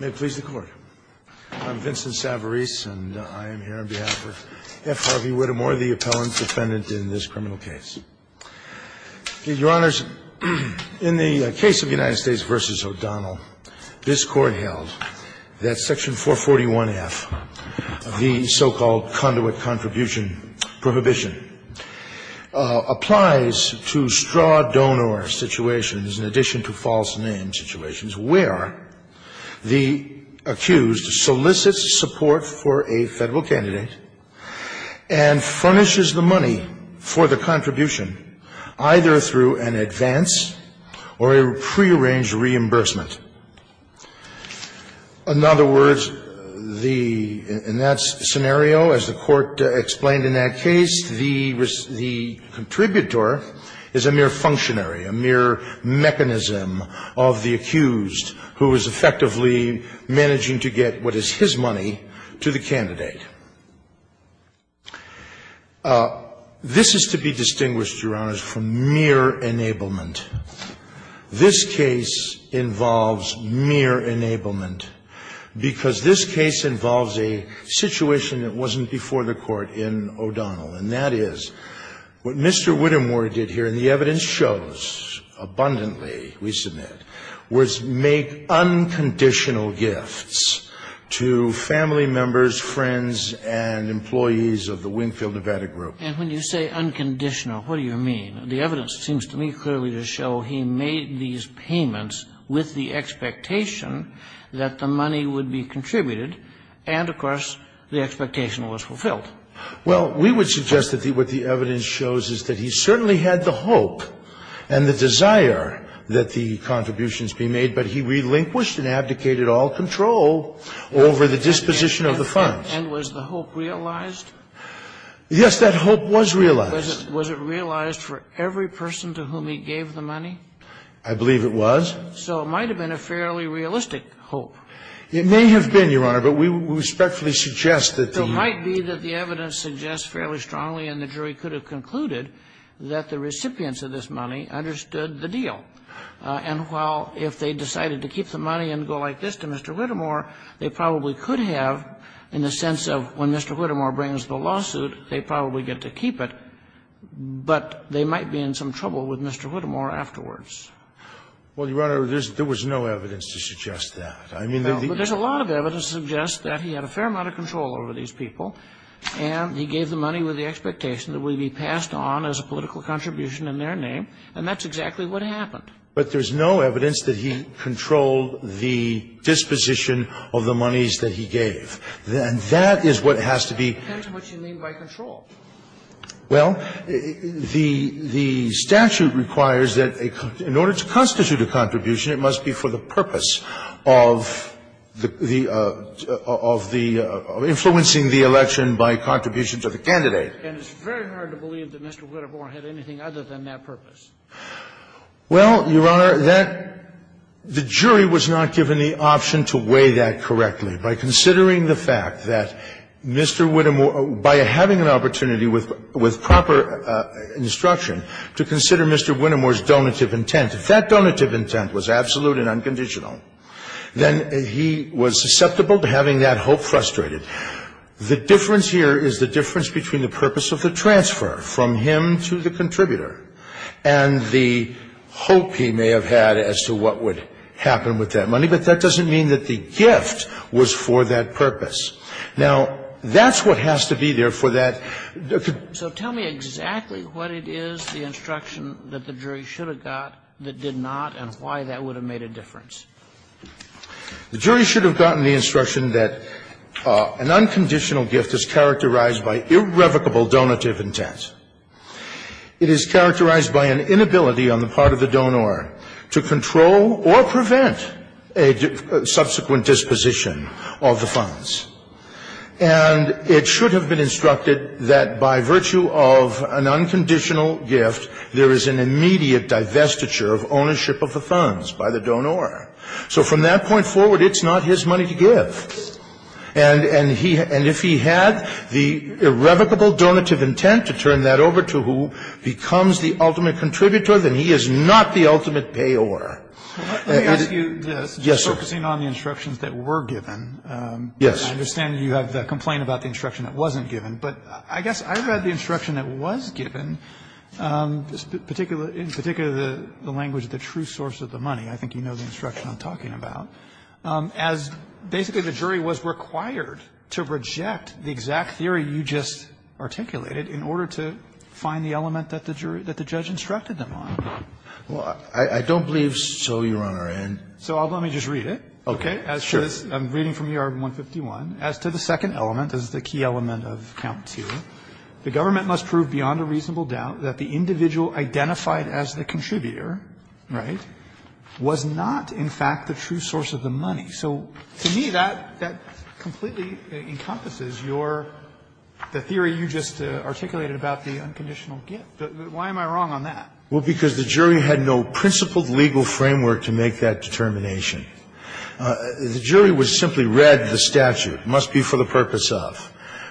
May it please the Court. I'm Vincent Savarese, and I am here on behalf of F. Harvey Whittemore, the appellant defendant in this criminal case. Your Honors, in the case of United States v. O'Donnell, this Court held that Section 441F of the so-called Conduit Contribution Prohibition applies to straw-donor situations in addition to false name situations where the accused solicits support for a Federal candidate and furnishes the money for the contribution either through an advance or a prearranged reimbursement. In other words, the — in that scenario, as the Court explained in that case, the — the contributor is a mere functionary, a mere mechanism of the accused who is effectively managing to get what is his money to the candidate. This is to be distinguished, Your Honors, from mere enablement. This case involves mere enablement because this case involves a situation that wasn't before the Court in O'Donnell, and that is what Mr. Whittemore did here, and the evidence shows abundantly, we submit, was make unconditional gifts to family members, friends, and employees of the Wingfield-Nevada Group. And when you say unconditional, what do you mean? The evidence seems to me clearly to show he made these payments with the expectation that the money would be contributed, and, of course, the expectation was fulfilled. Well, we would suggest that what the evidence shows is that he certainly had the hope and the desire that the contributions be made, but he relinquished and abdicated all control over the disposition of the funds. And was the hope realized? Yes, that hope was realized. Was it realized for every person to whom he gave the money? I believe it was. So it might have been a fairly realistic hope. It may have been, Your Honor, but we respectfully suggest that the ---- It might be that the evidence suggests fairly strongly and the jury could have concluded that the recipients of this money understood the deal. And while if they decided to keep the money and go like this to Mr. Whittemore, they probably could have, in the sense of when Mr. Whittemore brings the lawsuit, they probably get to keep it, but they might be in some trouble with Mr. Whittemore afterwards. Well, Your Honor, there's no evidence to suggest that. I mean, the ---- Well, but there's a lot of evidence to suggest that he had a fair amount of control over these people, and he gave the money with the expectation that it would be passed on as a political contribution in their name, and that's exactly what happened. But there's no evidence that he controlled the disposition of the monies that he gave. And that is what has to be ---- That depends on what you mean by controlled. Well, the statute requires that in order to constitute a contribution, it must be for the purpose of the ---- of influencing the election by contribution to the candidate. And it's very hard to believe that Mr. Whittemore had anything other than that purpose. Well, Your Honor, that ---- the jury was not given the option to weigh that correctly. By considering the fact that Mr. Whittemore ---- by having an opportunity with proper instruction to consider Mr. Whittemore's donative intent, if that donative intent was absolute and unconditional, then he was susceptible to having that hope frustrated. The difference here is the difference between the purpose of the transfer from him to the contributor and the hope he may have had as to what would happen with that money, but that doesn't mean that the gift was for that purpose. Now, that's what has to be there for that ---- So tell me exactly what it is, the instruction, that the jury should have got that did not and why that would have made a difference. The jury should have gotten the instruction that an unconditional gift is characterized by irrevocable donative intent. It is characterized by an inability on the part of the donor to control or prevent a subsequent disposition of the funds. And it should have been instructed that by virtue of an unconditional gift, there is an immediate divestiture of ownership of the funds by the donor. So from that point forward, it's not his money to give. And if he had the irrevocable donative intent to turn that over to who becomes the ultimate contributor, then he is not the ultimate payor. Yes, sir. I'm focusing on the instructions that were given. Yes. I understand you have the complaint about the instruction that wasn't given. But I guess I read the instruction that was given, in particular the language of the true source of the money. I think you know the instruction I'm talking about. As basically the jury was required to reject the exact theory you just articulated in order to find the element that the jury, that the judge instructed them on. Well, I don't believe so, Your Honor. So let me just read it. Okay. Sure. I'm reading from ER 151. As to the second element, this is the key element of count two, the government must prove beyond a reasonable doubt that the individual identified as the contributor was not in fact the true source of the money. So to me, that completely encompasses your the theory you just articulated about the unconditional gift. Why am I wrong on that? Well, because the jury had no principled legal framework to make that determination. The jury was simply read the statute. It must be for the purpose of.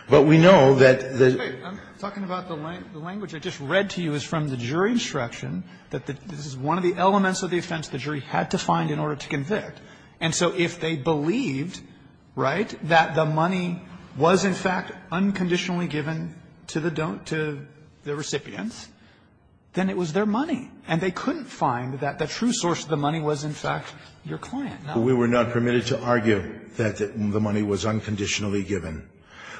But we know that the. I'm talking about the language I just read to you is from the jury instruction that this is one of the elements of the offense the jury had to find in order to convict. And so if they believed, right, that the money was in fact unconditionally given to the recipients, then it was their money. And they couldn't find that the true source of the money was in fact your client. We were not permitted to argue that the money was unconditionally given.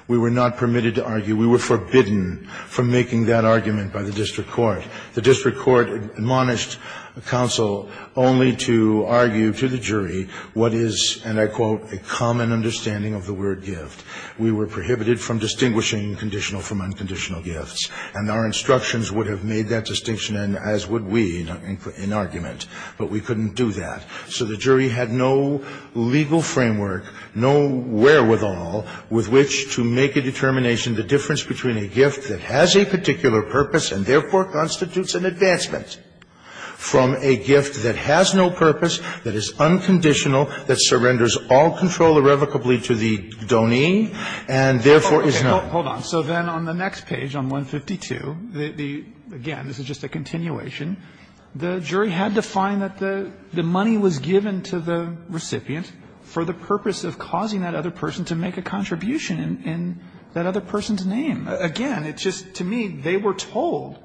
We were not permitted to argue. We were forbidden from making that argument by the district court. The district court admonished counsel only to argue to the jury what is, and I quote, a common understanding of the word gift. We were prohibited from distinguishing conditional from unconditional gifts. And our instructions would have made that distinction and as would we in argument. But we couldn't do that. So the jury had no legal framework, no wherewithal with which to make a determination the difference between a gift that has a particular purpose and therefore constitutes an advancement from a gift that has no purpose, that is unconditional, that surrenders all control irrevocably to the donee, and therefore is not. Hold on. So then on the next page, on 152, the, again, this is just a continuation. The jury had to find that the money was given to the recipient for the purpose of causing that other person to make a contribution in that other person's name. Again, it's just, to me, they were told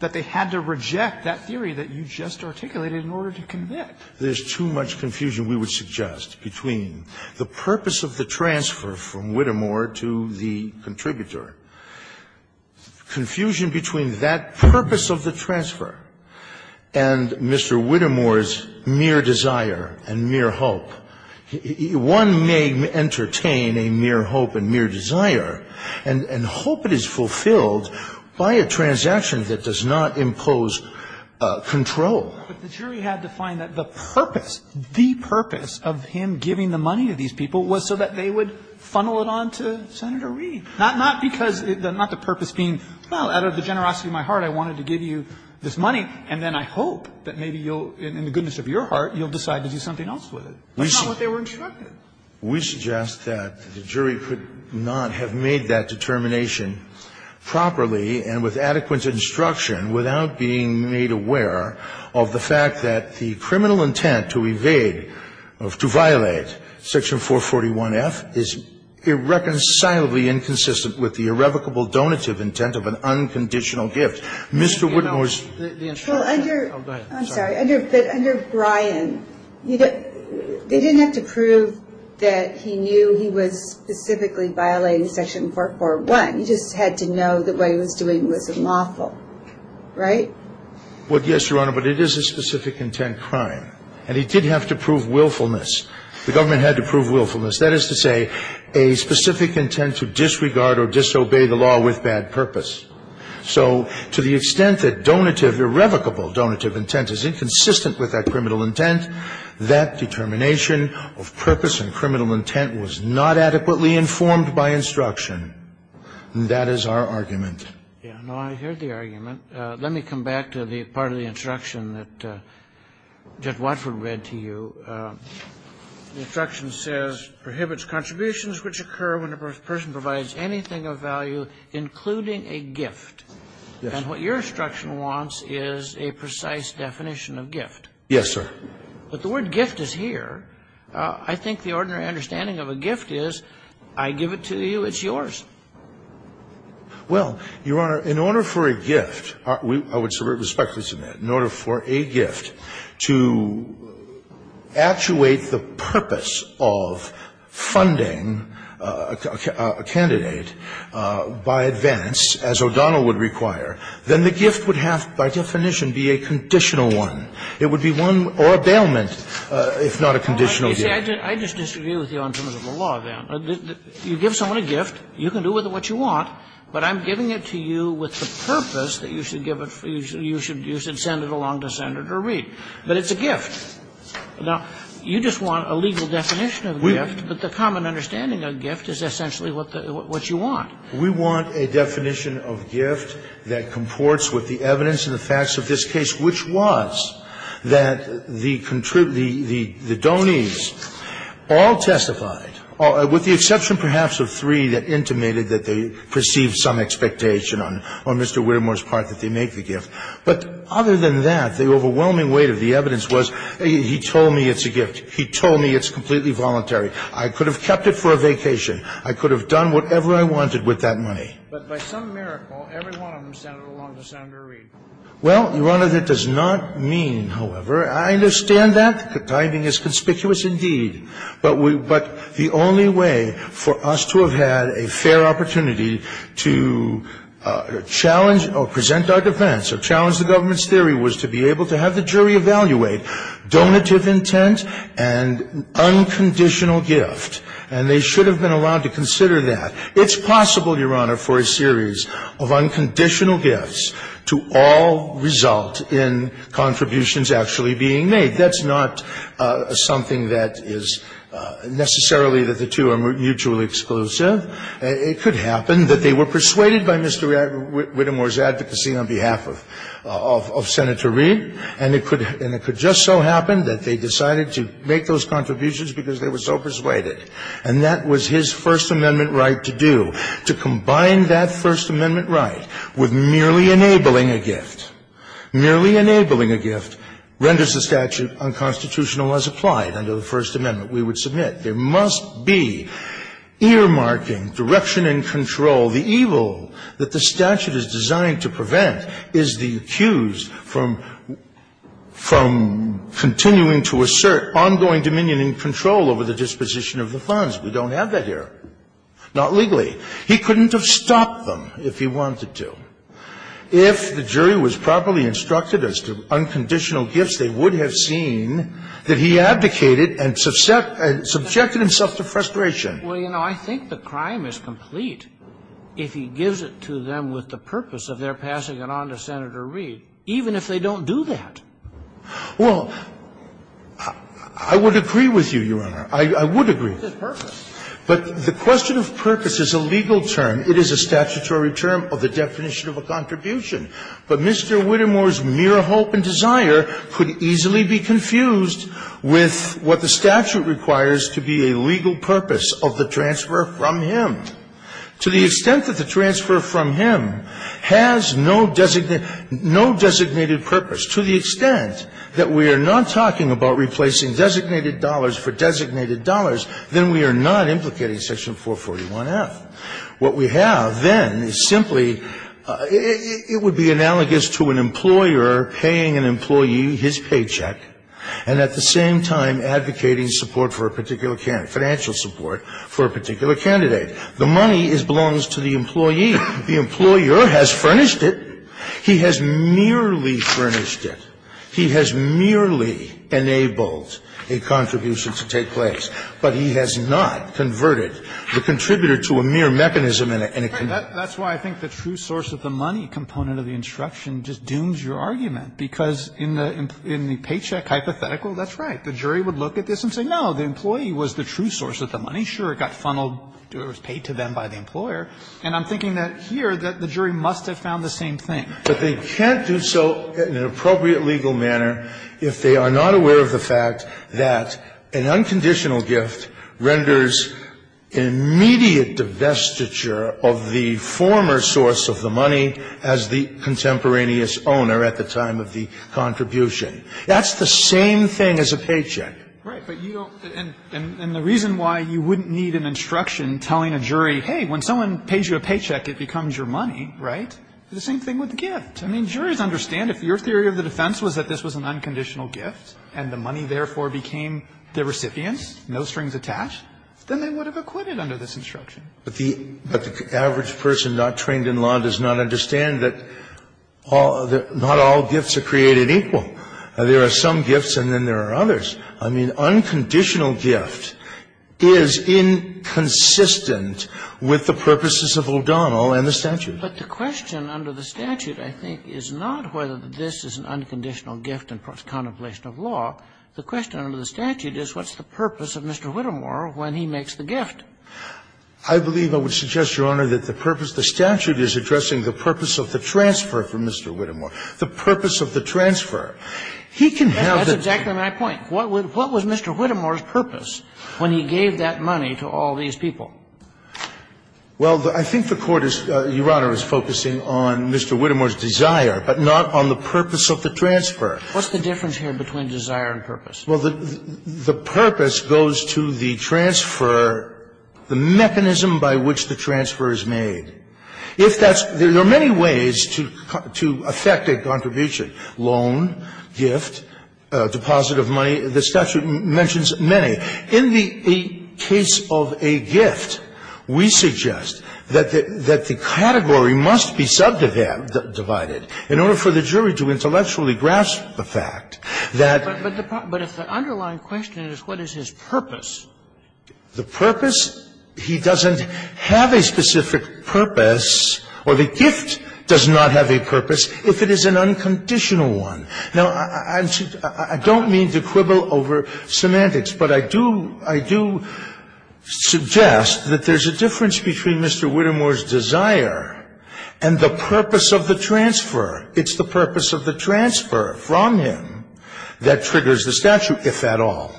that they had to reject that theory that you just articulated in order to convict. There's too much confusion, we would suggest, between the purpose of the transfer from Whittemore to the contributor, confusion between that purpose of the transfer and Mr. Whittemore's mere desire and mere hope. One may entertain a mere hope and mere desire and hope it is fulfilled by a transaction that does not impose control. But the jury had to find that the purpose, the purpose of him giving the money to these people was so that they would funnel it on to Senator Reed. Not because, not the purpose being, well, out of the generosity of my heart, I wanted to give you this money, and then I hope that maybe you'll, in the goodness of your heart, you'll decide to do something else with it. That's not what they were instructed. We suggest that the jury could not have made that determination properly and with adequate instruction without being made aware of the fact that the criminal intent to evade, to violate Section 441F is irreconcilably inconsistent with the irrevocable donative intent of an unconditional gift. Mr. Whittemore's the instruction. Well, under, I'm sorry, but under Brian, they didn't have to prove that he knew he was specifically violating Section 441. He just had to know that what he was doing was unlawful, right? Well, yes, Your Honor, but it is a specific intent crime. And he did have to prove willfulness. The government had to prove willfulness. That is to say, a specific intent to disregard or disobey the law with bad purpose. So to the extent that donative, irrevocable donative intent is inconsistent with that criminal intent, that determination of purpose and criminal intent was not adequately informed by instruction, and that is our argument. Yeah, no, I heard the argument. Let me come back to the part of the instruction that Judge Watford read to you. The instruction says, prohibits contributions which occur when a person provides anything of value, including a gift. And what your instruction wants is a precise definition of gift. Yes, sir. But the word gift is here. I think the ordinary understanding of a gift is I give it to you, it's yours. Well, Your Honor, in order for a gift, I would respectfully submit, in order for a gift to actuate the purpose of funding a candidate by advance, as O'Donnell would require, then the gift would have, by definition, be a conditional one. It would be one or a bailment if not a conditional gift. I just disagree with you in terms of the law, then. You give someone a gift. You can do with it what you want. But I'm giving it to you with the purpose that you should give it, you should send it along to Senator Reid. But it's a gift. Now, you just want a legal definition of gift, but the common understanding of gift is essentially what you want. We want a definition of gift that comports with the evidence and the facts of this case, which was that the donees all testified, with the exception perhaps of three that intimated that they perceived some expectation on Mr. Widermoore's part that they make the gift. But other than that, the overwhelming weight of the evidence was he told me it's a gift. He told me it's completely voluntary. I could have kept it for a vacation. I could have done whatever I wanted with that money. But by some miracle, every one of them sent it along to Senator Reid. Well, Your Honor, that does not mean, however, I understand that. The timing is conspicuous indeed. But the only way for us to have had a fair opportunity to challenge or present our defense or challenge the government's theory was to be able to have the jury evaluate donative intent and unconditional gift. And they should have been allowed to consider that. It's possible, Your Honor, for a series of unconditional gifts to all result in contributions actually being made. That's not something that is necessarily that the two are mutually exclusive. It could happen that they were persuaded by Mr. Widermoore's advocacy on behalf of Senator Reid. And it could just so happen that they decided to make those contributions because they were so persuaded. And that was his First Amendment right to do, to combine that First Amendment right with merely enabling a gift, merely enabling a gift, renders the statute unconstitutional as applied under the First Amendment we would submit. There must be earmarking, direction and control. The evil that the statute is designed to prevent is the accused from continuing to assert ongoing dominion and control over the disposition of the funds. We don't have that here, not legally. He couldn't have stopped them if he wanted to. If the jury was properly instructed as to unconditional gifts, they would have seen that he abdicated and subjected himself to frustration. Well, you know, I think the crime is complete if he gives it to them with the purpose of their passing it on to Senator Reid, even if they don't do that. Well, I would agree with you, Your Honor. I would agree. It's his purpose. But the question of purpose is a legal term. It is a statutory term of the definition of a contribution. But Mr. Whittemore's mere hope and desire could easily be confused with what the statute requires to be a legal purpose of the transfer from him. To the extent that the transfer from him has no designated purpose, to the extent that we are not talking about replacing designated dollars for designated dollars, then we are not implicating Section 441F. What we have then is simply, it would be analogous to an employer paying an employee his paycheck and at the same time advocating support for a particular candidate, financial support for a particular candidate. The money belongs to the employee. The employer has furnished it. He has merely furnished it. He has merely enabled a contribution to take place. But he has not converted the contributor to a mere mechanism in a committee. That's why I think the true source of the money component of the instruction just dooms your argument, because in the paycheck hypothetical, that's right. The jury would look at this and say, no, the employee was the true source of the money. Sure, it got funneled or it was paid to them by the employer. And I'm thinking that here that the jury must have found the same thing. But they can't do so in an appropriate legal manner if they are not aware of the fact that an unconditional gift renders an immediate divestiture of the former source of the money as the contemporaneous owner at the time of the contribution. That's the same thing as a paycheck. Right. But you don't and the reason why you wouldn't need an instruction telling a jury, hey, when someone pays you a paycheck, it becomes your money, right, is the same thing with the gift. I mean, juries understand if your theory of the defense was that this was an unconditional gift and the money, therefore, became the recipient, no strings attached, then they would have acquitted under this instruction. But the average person not trained in law does not understand that not all gifts are created equal. There are some gifts and then there are others. I mean, unconditional gift is inconsistent with the purposes of O'Donnell and the statute. But the question under the statute, I think, is not whether this is an unconditional gift in contemplation of law. The question under the statute is what's the purpose of Mr. Whittemore when he makes the gift? I believe I would suggest, Your Honor, that the purpose of the statute is addressing the purpose of the transfer from Mr. Whittemore. The purpose of the transfer. He can have the ---- That's exactly my point. What was Mr. Whittemore's purpose when he gave that money to all these people? Well, I think the Court is, Your Honor, is focusing on Mr. Whittemore's desire, but not on the purpose of the transfer. What's the difference here between desire and purpose? Well, the purpose goes to the transfer, the mechanism by which the transfer is made. If that's ---- there are many ways to affect a contribution. Loan, gift, deposit of money. The statute mentions many. In the case of a gift, we suggest that the category must be subdivided. In order for the jury to intellectually grasp the fact that ---- But if the underlying question is what is his purpose? The purpose, he doesn't have a specific purpose, or the gift does not have a purpose if it is an unconditional one. Now, I don't mean to quibble over semantics, but I do ---- I do suggest that there's a difference between Mr. Whittemore's desire and the purpose of the transfer. It's the purpose of the transfer from him that triggers the statute, if at all.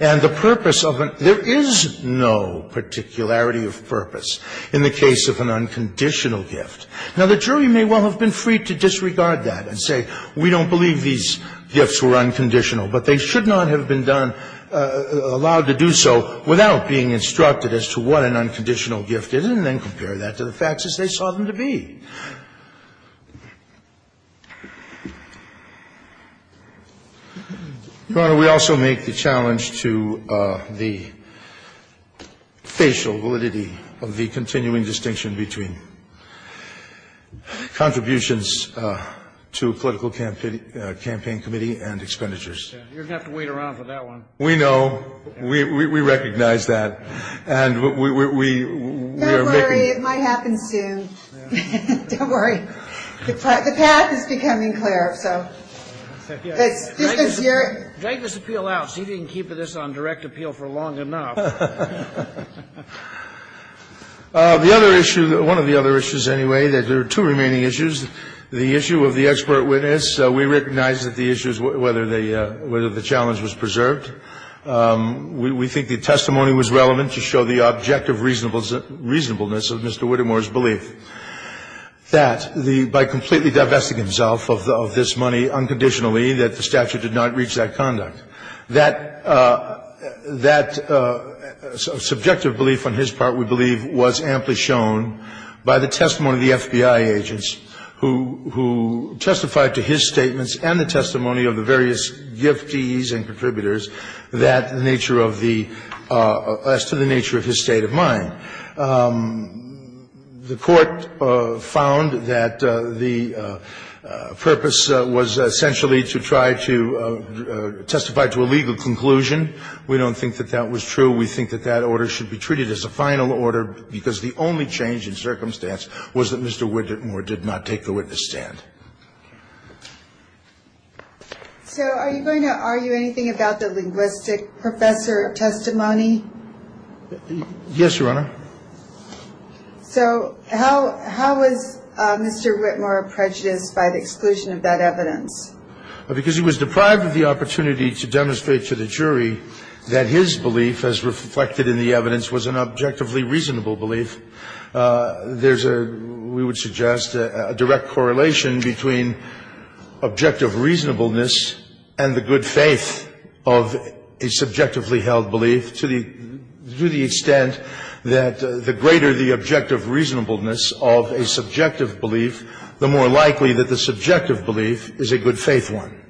And the purpose of an ---- there is no particularity of purpose in the case of an unconditional gift. Now, the jury may well have been free to disregard that and say, we don't believe these gifts were unconditional, but they should not have been done ---- allowed to do so without being instructed as to what an unconditional gift is, and then compare that to the facts as they saw them to be. Your Honor, we also make the challenge to the facial validity of the continuing distinction between contributions to a political campaign committee and expenditures. You're going to have to wait around for that one. We know. We recognize that. And we are making ---- Don't worry. It might happen soon. Don't worry. The path is becoming clearer, so. This is your ---- Drag this appeal out. See if you can keep this on direct appeal for long enough. The other issue, one of the other issues, anyway, that there are two remaining issues, the issue of the expert witness. We recognize that the issue is whether the challenge was preserved. We think the testimony was relevant to show the objective reasonableness of Mr. Whittemore's belief that the ---- by completely divesting himself of this money unconditionally, that the statute did not reach that conduct. That subjective belief on his part, we believe, was amply shown by the testimony of the FBI agents who testified to his statements and the testimony of the various giftees and contributors that nature of the ---- as to the nature of his state of mind. The Court found that the purpose was essentially to try to testify to a legal conclusion. We don't think that that was true. We think that that order should be treated as a final order because the only change in circumstance was that Mr. Whittemore did not take the witness stand. So are you going to argue anything about the linguistic professor testimony? Yes, Your Honor. So how was Mr. Whittemore prejudiced by the exclusion of that evidence? Because he was deprived of the opportunity to demonstrate to the jury that his belief as reflected in the evidence was an objectively reasonable belief. There's a, we would suggest, a direct correlation between objective reasonableness and the good faith of a subjectively held belief to the extent that the greater the objective reasonableness of a subjective belief, the more likely that the subjective belief is a good faith one.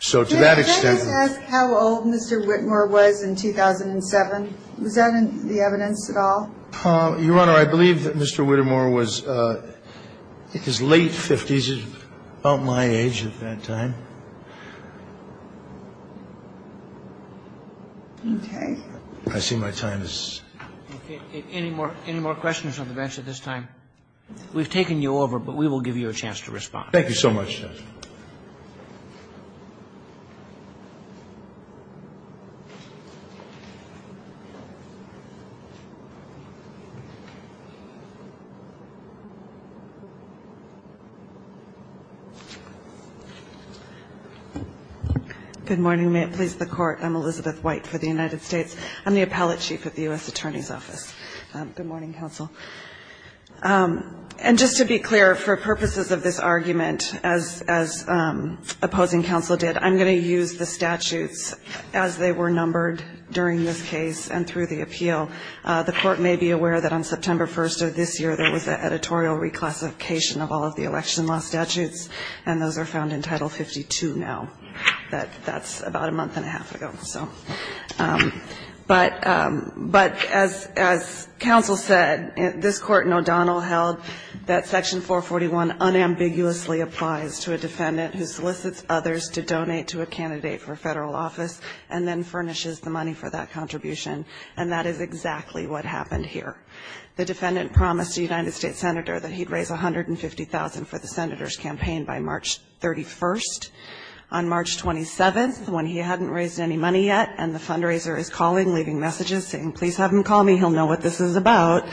So to that extent ---- Can I just ask how old Mr. Whittemore was in 2007? Was that in the evidence at all? Your Honor, I believe that Mr. Whittemore was, I think, his late 50s, about my age at that time. Okay. I see my time is up. Okay. Any more questions on the bench at this time? We've taken you over, but we will give you a chance to respond. Thank you so much, Judge. Good morning. May it please the Court. I'm Elizabeth White for the United States. I'm the Appellate Chief at the U.S. Attorney's Office. Good morning, Counsel. And just to be clear, for purposes of this argument, as opposing counsel did, I'm going to use the statutes as they were numbered during this case and through the appeal. The Court may be aware that on September 1st of this year, there was an editorial reclassification of all of the election law statutes, and those are found in Title 52 now. That's about a month and a half ago. But as counsel said, this Court in O'Donnell held that Section 441 unambiguously applies to a defendant who solicits others to donate to a candidate for federal office and then furnishes the money for that contribution, and that is exactly what happened here. The defendant promised a United States senator that he'd raise $150,000 for the senator's campaign by March 31st. On March 27th, when he hadn't raised any money yet, and the fundraiser is calling, leaving messages saying, please have him call me, he'll know what this is about,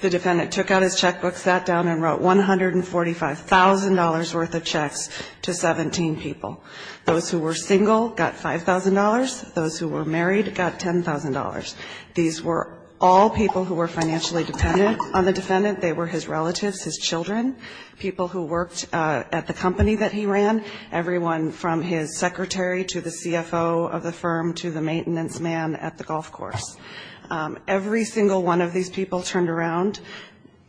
the defendant took out his checkbook, sat down and wrote $145,000 worth of checks to 17 people. Those who were single got $5,000. Those who were married got $10,000. These were all people who were financially dependent on the defendant. They were his relatives, his children, people who worked at the company that he ran, everyone from his secretary to the CFO of the firm to the maintenance man at the golf course. Every single one of these people turned around,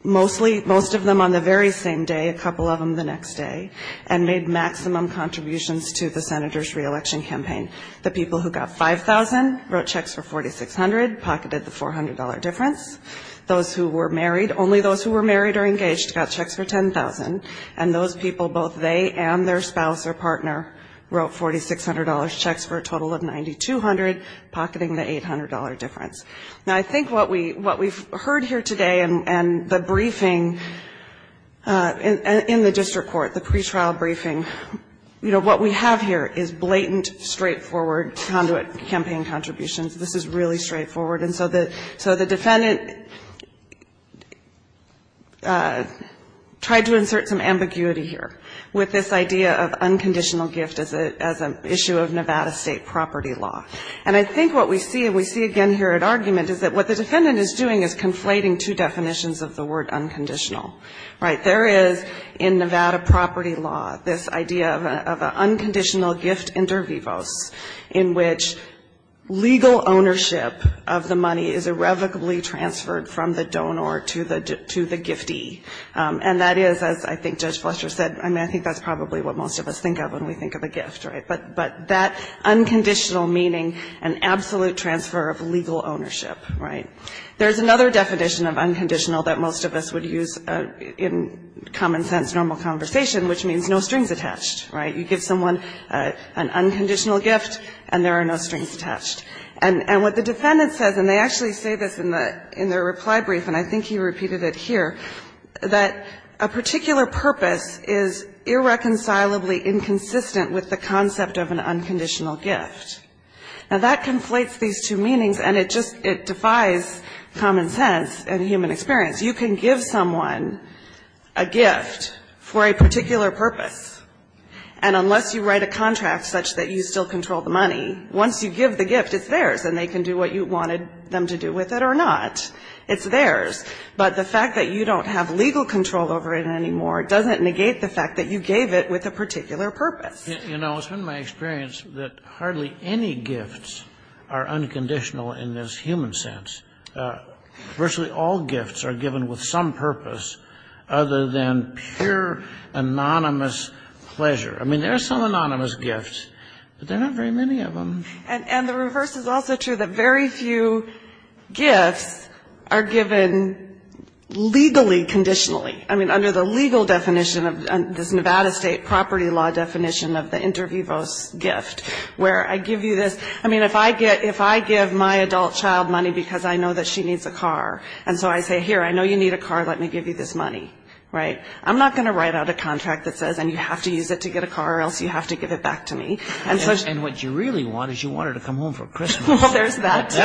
mostly, most of them on the very same day, a couple of them the next day, and made maximum contributions to the senator's re-election campaign. The people who got $5,000 wrote checks for $4,600, pocketed the $400 difference. Those who were married, only those who were married or engaged, got checks for $10,000, and those people, both they and their spouse or partner, wrote $4,600 checks for a total of $9,200, pocketing the $800 difference. Now, I think what we've heard here today and the briefing in the district court, the pretrial briefing, you know, what we have here is blatant, straightforward conduit campaign contributions. This is really straightforward. And so the defendant tried to insert some ambiguity here with this idea of unconditional gift as an issue of Nevada State property law. And I think what we see, and we see again here at argument, is that what the defendant is doing is conflating two definitions of the word unconditional. Right? There is, in Nevada property law, this idea of an unconditional gift inter vivos in which legal ownership of the money is irrevocably transferred from the donor to the giftee. And that is, as I think Judge Fletcher said, I mean, I think that's probably what most of us think of when we think of a gift, right? But that unconditional meaning an absolute transfer of legal ownership. Right? There's another definition of unconditional that most of us would use in common sense normal conversation, which means no strings attached. Right? You give someone an unconditional gift, and there are no strings attached. And what the defendant says, and they actually say this in their reply brief, and I think he repeated it here, that a particular purpose is irreconcilably inconsistent with the concept of an unconditional gift. Now, that conflates these two meanings, and it just, it defies common sense and human experience. You can give someone a gift for a particular purpose, and unless you write a contract such that you still control the money, once you give the gift, it's theirs, and they can do what you wanted them to do with it or not. It's theirs. But the fact that you don't have legal control over it anymore doesn't negate the fact that you gave it with a particular purpose. You know, it's been my experience that hardly any gifts are unconditional in this human sense. Virtually all gifts are given with some purpose other than pure anonymous pleasure. I mean, there are some anonymous gifts, but there are not very many of them. And the reverse is also true, that very few gifts are given legally, conditionally. I mean, under the legal definition of this Nevada State property law definition of the inter vivos gift, where I give you this, I mean, if I give my adult child money because I know that she needs a car, and so I say, here, I know you need a car, let me give you this money, right? I'm not going to write out a contract that says, and you have to use it to get a car, or else you have to give it back to me. And what you really want is you want her to come home for Christmas. Well, there's that, too.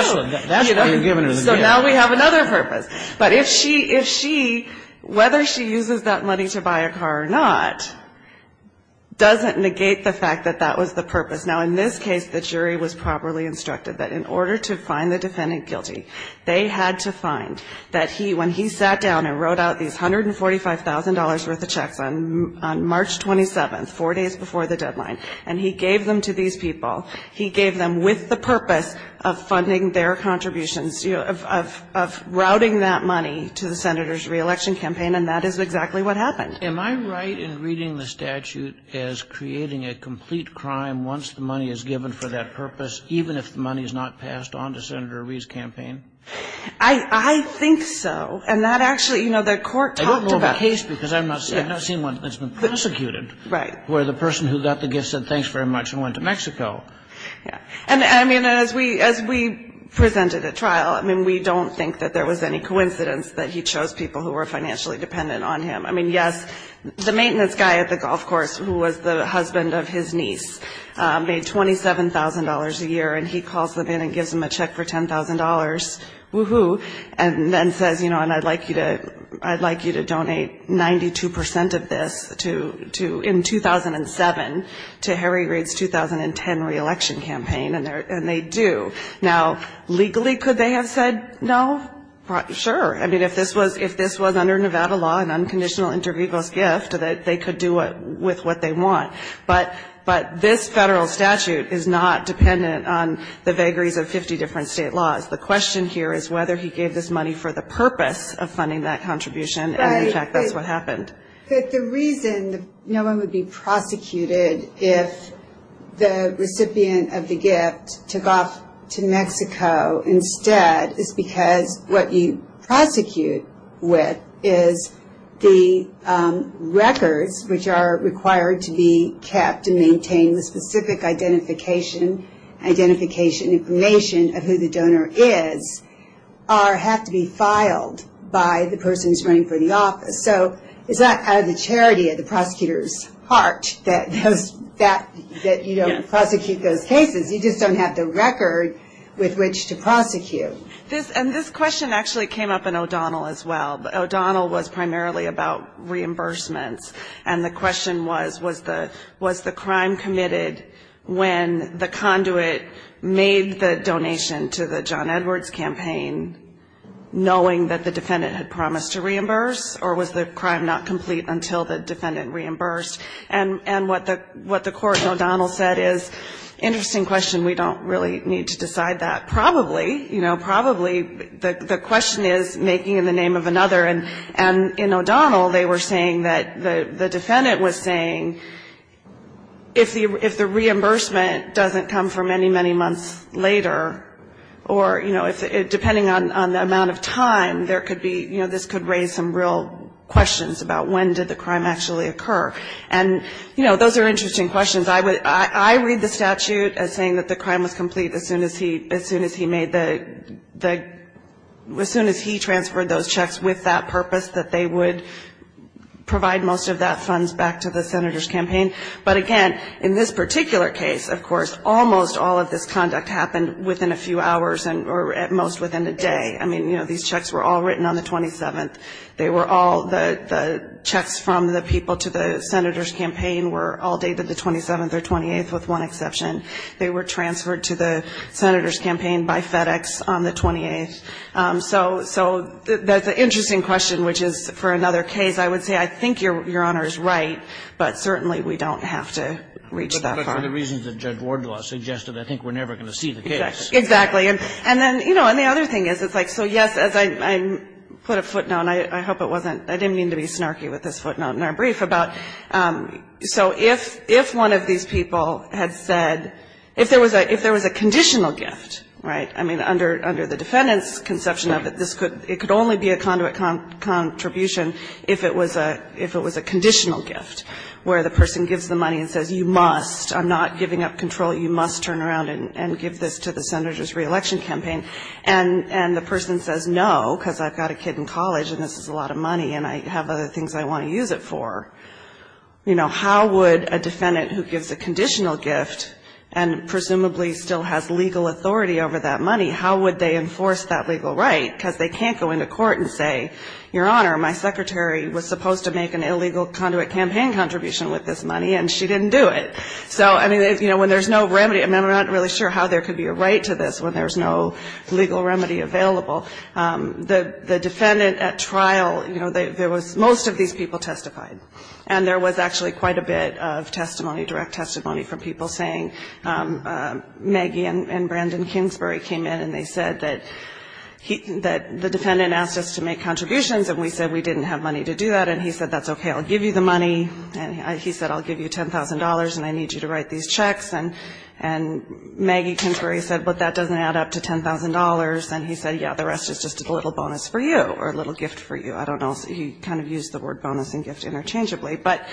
That's why you're giving her the gift. So now we have another purpose. But if she, whether she uses that money to buy a car or not, doesn't negate the fact that that was the purpose. Now, in this case, the jury was properly instructed that in order to find the defendant guilty, they had to find that he, when he sat down and wrote out these $145,000 worth of checks on March 27th, four days before the deadline, and he gave them to these people, he gave them with the purpose of funding their contributions, of routing that money to the Senator's reelection campaign, and that is exactly what happened. Am I right in reading the statute as creating a complete crime once the money is given for that purpose, even if the money is not passed on to Senator Reid's campaign? I think so. And that actually, you know, the court talked about it. I don't know of a case, because I've not seen one that's been prosecuted, where the person who got the gift said, thanks very much and went to Mexico. And, I mean, as we presented at trial, I mean, we don't think that there was any coincidence that he chose people who were financially dependent on him. I mean, yes, the maintenance guy at the golf course, who was the husband of his niece, made $27,000 a year, and he calls them in and gives them a check for $10,000, woo-hoo, and then says, you know, and I'd like you to donate 92 percent of this to, in 2007, to Harry Reid's 2010 reelection campaign, and they do. Now, legally, could they have said no? Sure. I mean, if this was under Nevada law, an unconditional intervegal's gift, they could do with what they want. But this federal statute is not dependent on the vagaries of 50 different state laws. The question here is whether he gave this money for the purpose of funding that contribution, and, in fact, that's what happened. But the reason no one would be prosecuted if the recipient of the gift took off to Mexico instead is because what you prosecute with is the records, which are required to be kept to maintain the specific identification information of who the donor is, have to be filed by the person who's running for the office. So it's not out of the charity of the prosecutor's heart that you don't prosecute those cases. You just don't have the record with which to prosecute. And this question actually came up in O'Donnell as well. O'Donnell was primarily about reimbursements, and the question was, was the crime committed when the conduit made the donation to the John Edwards campaign, knowing that the defendant had promised to reimburse, or was the crime not complete until the defendant reimbursed? And what the court in O'Donnell said is, interesting question. We don't really need to decide that. Probably, you know, probably the question is making in the name of another. And in O'Donnell, they were saying that the defendant was saying if the reimbursement doesn't come for many, many months later, or, you know, depending on the amount of time, there could be, you know, this could raise some real questions about when did the crime actually occur. And, you know, those are interesting questions. I read the statute as saying that the crime was complete as soon as he made the, as soon as he transferred those checks with that purpose, that they would provide most of that funds back to the senator's campaign. But, again, in this particular case, of course, almost all of this conduct happened within a few hours, or at most within a day. I mean, you know, these checks were all written on the 27th. They were all the checks from the people to the senator's campaign were all dated the 27th or 28th, with one exception. They were transferred to the senator's campaign by FedEx on the 28th. So that's an interesting question, which is, for another case, I would say I think Your Honor is right, but certainly we don't have to reach that far. But that's one of the reasons that Judge Wardlaw suggested. I think we're never going to see the case. Exactly. And then, you know, and the other thing is, it's like, so, yes, as I put a footnote, and I hope it wasn't, I didn't mean to be snarky with this footnote in our brief, about, so if one of these people had said, if there was a conditional gift, right, I mean, under the defendant's conception of it, this could, it could only be a conduit contribution if it was a conditional gift, where the person gives the money and says, you must, I'm not giving up control, you must turn around and give this to the senator's in college, and this is a lot of money, and I have other things I want to use it for. You know, how would a defendant who gives a conditional gift, and presumably still has legal authority over that money, how would they enforce that legal right? Because they can't go into court and say, Your Honor, my secretary was supposed to make an illegal conduit campaign contribution with this money, and she didn't do it. So, I mean, you know, when there's no remedy, I mean, I'm not really sure how there could be a right to this when there's no legal remedy available. The defendant at trial, you know, there was, most of these people testified, and there was actually quite a bit of testimony, direct testimony from people saying, Maggie and Brandon Kingsbury came in and they said that the defendant asked us to make contributions, and we said we didn't have money to do that, and he said, That's okay, I'll give you the money. And he said, I'll give you $10,000, and I need you to write these checks. And Maggie Kingsbury said, But that doesn't add up to $10,000. And he said, Yeah, the rest is just a little bonus for you or a little gift for you. I don't know. He kind of used the word bonus and gift interchangeably. But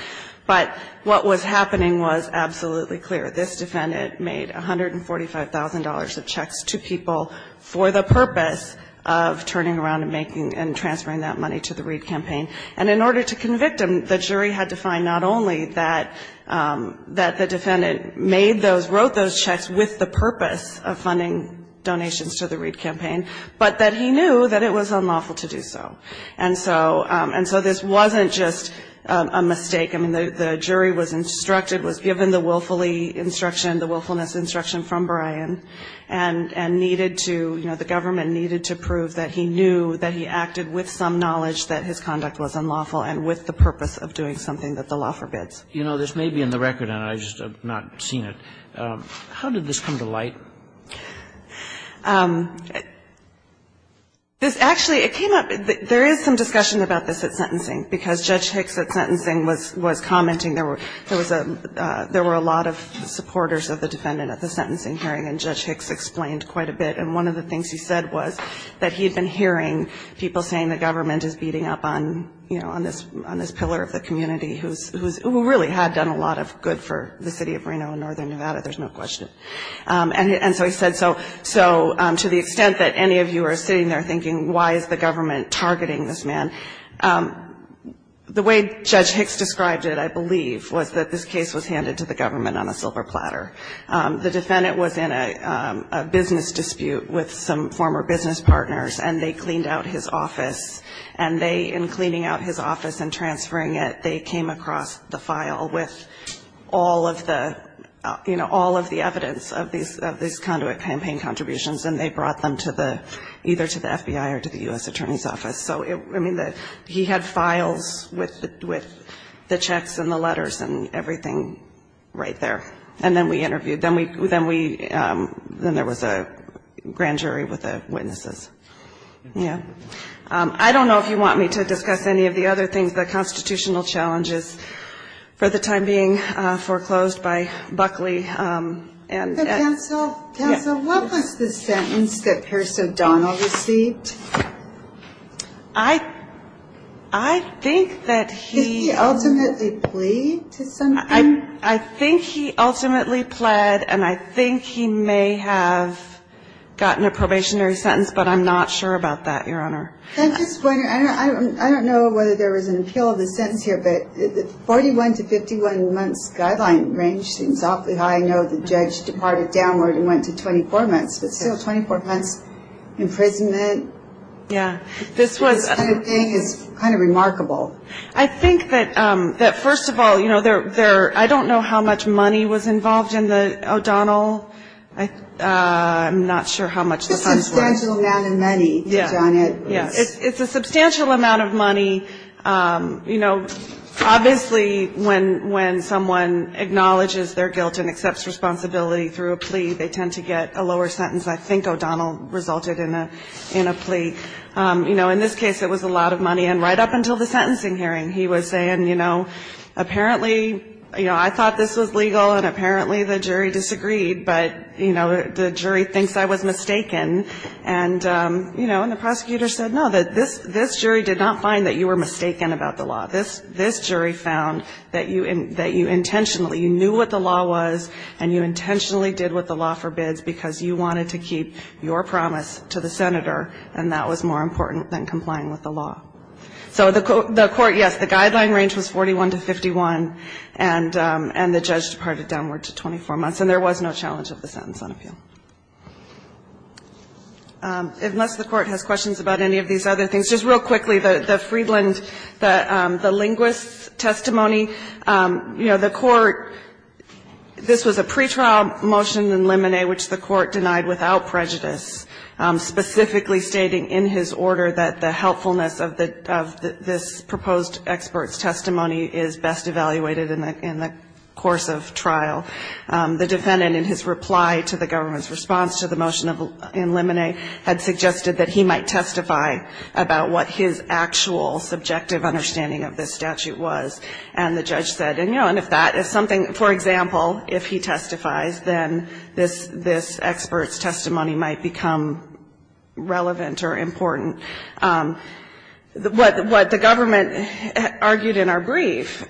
what was happening was absolutely clear. This defendant made $145,000 of checks to people for the purpose of turning around and making and transferring that money to the Reed campaign. And in order to convict him, the jury had to find not only that the defendant made those, wrote those checks with the purpose of funding donations to the Reed campaign, but that he knew that it was unlawful to do so. And so this wasn't just a mistake. I mean, the jury was instructed, was given the willfully instruction, the willfulness instruction from Bryan, and needed to, you know, the government needed to prove that he knew, that he acted with some knowledge that his conduct was unlawful and with the purpose of doing something that the law forbids. You know, this may be in the record, and I just have not seen it. How did this come to light? This actually, it came up. There is some discussion about this at sentencing, because Judge Hicks at sentencing was commenting there were a lot of supporters of the defendant at the sentencing hearing, and Judge Hicks explained quite a bit. And one of the things he said was that he had been hearing people saying the government is beating up on, you know, on this pillar of the community who really had done a lot of good for the city of Reno and northern Nevada, there's no question. And so he said, so to the extent that any of you are sitting there thinking, why is the government targeting this man, the way Judge Hicks described it, I believe, was that this case was handed to the government on a silver platter. The defendant was in a business dispute with some former business partners, and they cleaned out his office, and they, in cleaning out his office and transferring it, they came across the file with all of the, you know, all of the evidence of these conduit campaign contributions, and they brought them to the, either to the FBI or to the U.S. Attorney's Office. So, I mean, he had files with the checks and the letters and everything right there. And then we interviewed. Then there was a grand jury with the witnesses. I don't know if you want me to discuss any of the other things, the constitutional challenges for the time being foreclosed by Buckley. Counsel, what was the sentence that Pierce O'Donnell received? I think that he. Did he ultimately plead to something? I think he ultimately pled, and I think he may have gotten a probationary sentence, but I'm not sure about that, Your Honor. I'm just wondering. I don't know whether there was an appeal of the sentence here, but the 41 to 51 months guideline range seems awfully high. I know the judge departed downward and went to 24 months, but still 24 months imprisonment. Yeah. This kind of thing is kind of remarkable. I think that first of all, you know, I don't know how much money was involved in the O'Donnell. I'm not sure how much the funds were. It's a substantial amount of money. Yeah. It's a substantial amount of money. You know, obviously when someone acknowledges their guilt and accepts responsibility through a plea, they tend to get a lower sentence. I think O'Donnell resulted in a plea. You know, in this case it was a lot of money. And right up until the sentencing hearing he was saying, you know, apparently, you know, I thought this was legal and apparently the jury disagreed, but, you know, the jury thinks I was mistaken. And, you know, and the prosecutor said, no, this jury did not find that you were mistaken about the law. This jury found that you intentionally knew what the law was and you intentionally did what the law forbids because you wanted to keep your promise to the senator, and that was more important than complying with the law. So the court, yes, the guideline range was 41 to 51, and the judge departed downward to 24 months, and there was no challenge of the sentence on appeal. Unless the court has questions about any of these other things. Just real quickly, the Friedland, the linguist's testimony, you know, the court, this was a pretrial motion in Limine, which the court denied without prejudice, specifically stating in his order that the helpfulness of this proposed expert's testimony is best evaluated in the course of trial. The defendant in his reply to the government's response to the motion in Limine had suggested that he might testify about what his actual subjective understanding of this statute was. And the judge said, you know, and if that is something, for example, if he testifies, then this expert's testimony might become relevant or important. What the government argued in our brief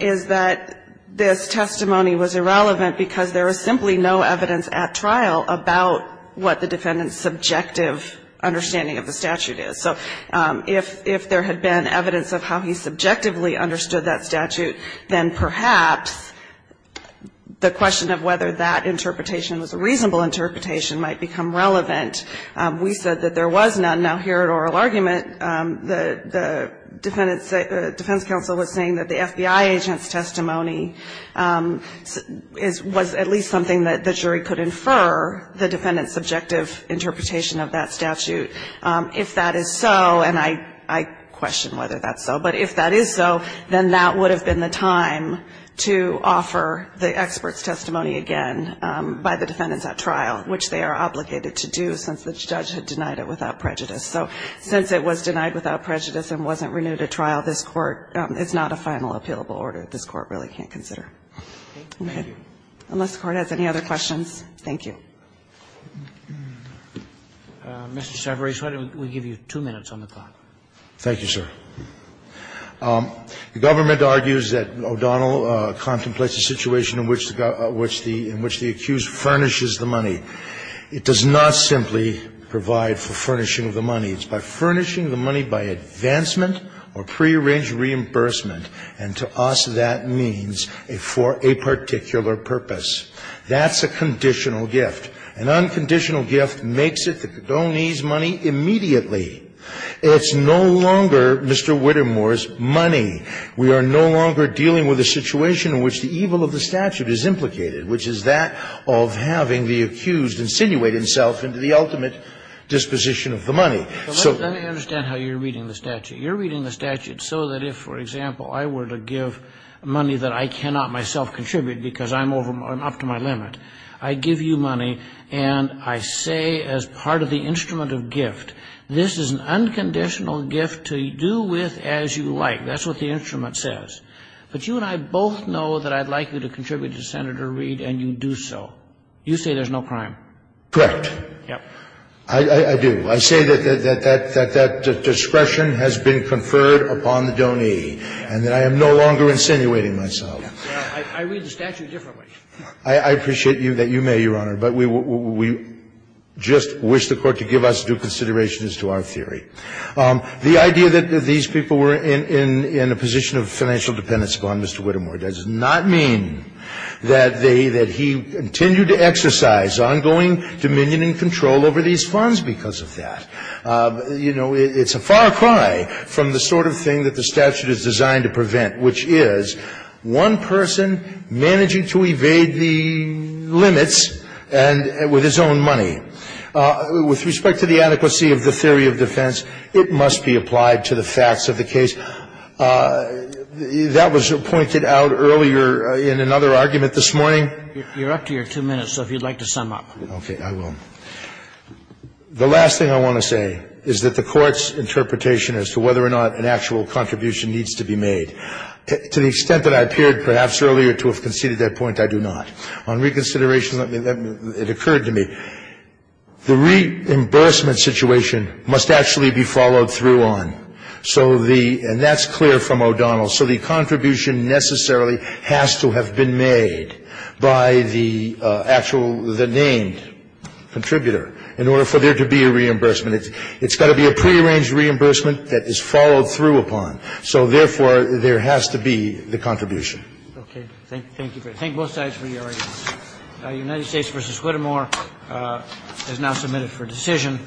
is that this testimony was irrelevant because there was simply no evidence at trial about what the defendant's subjective understanding of the statute is. So if there had been evidence of how he subjectively understood that statute, then perhaps the question of whether that interpretation was a reasonable interpretation might become relevant. We said that there was none. Now, here at oral argument, the defendant's defense counsel was saying that the FBI agent's testimony was at least something that the jury could infer, the defendant's subjective interpretation of that statute. If that is so, and I question whether that's so, but if that is so, then that would have been the time to offer the expert's testimony again by the defendants at trial, which they are obligated to do since the judge had denied it without prejudice. So since it was denied without prejudice and wasn't renewed at trial, this Court – it's not a final appealable order that this Court really can't consider. Unless the Court has any other questions. Thank you. Mr. Cerveris, why don't we give you two minutes on the clock. Thank you, sir. The government argues that O'Donnell contemplates a situation in which the – in which the accused furnishes the money. It does not simply provide for furnishing of the money. It's by furnishing the money by advancement or prearranged reimbursement. And to us, that means for a particular purpose. That's a conditional gift. An unconditional gift makes it the condonee's money immediately. It's no longer Mr. Whittemore's money. We are no longer dealing with a situation in which the evil of the statute is implicated, which is that of having the accused insinuate himself into the ultimate disposition of the money. So – Let me understand how you're reading the statute. You're reading the statute so that if, for example, I were to give money that I cannot myself contribute because I'm up to my limit, I give you money and I say as part of the instrument of gift, this is an unconditional gift to do with as you like. That's what the instrument says. But you and I both know that I'd like you to contribute to Senator Reid and you do so. You say there's no crime. Correct. Yes. I do. I say that that discretion has been conferred upon the donee and that I am no longer insinuating myself. I read the statute differently. I appreciate that you may, Your Honor. But we just wish the Court to give us due consideration as to our theory. The idea that these people were in a position of financial dependence upon Mr. Whittemore does not mean that they – that he continued to exercise ongoing dominion and control over these funds because of that. You know, it's a far cry from the sort of thing that the statute is designed to prevent, which is one person managing to evade the limits and with his own money. With respect to the adequacy of the theory of defense, it must be applied to the facts of the case. That was pointed out earlier in another argument this morning. You're up to your two minutes, so if you'd like to sum up. Okay. I will. The last thing I want to say is that the Court's interpretation as to whether or not an actual contribution needs to be made. To the extent that I appeared perhaps earlier to have conceded that point, I do not. On reconsideration, it occurred to me. The reimbursement situation must actually be followed through on. So the – and that's clear from O'Donnell. So the contribution necessarily has to have been made by the actual – the named contributor in order for there to be a reimbursement. It's got to be a prearranged reimbursement that is followed through upon. So, therefore, there has to be the contribution. Okay. Thank you. Thank you both sides for your arguments. United States v. Whittemore is now submitted for decision.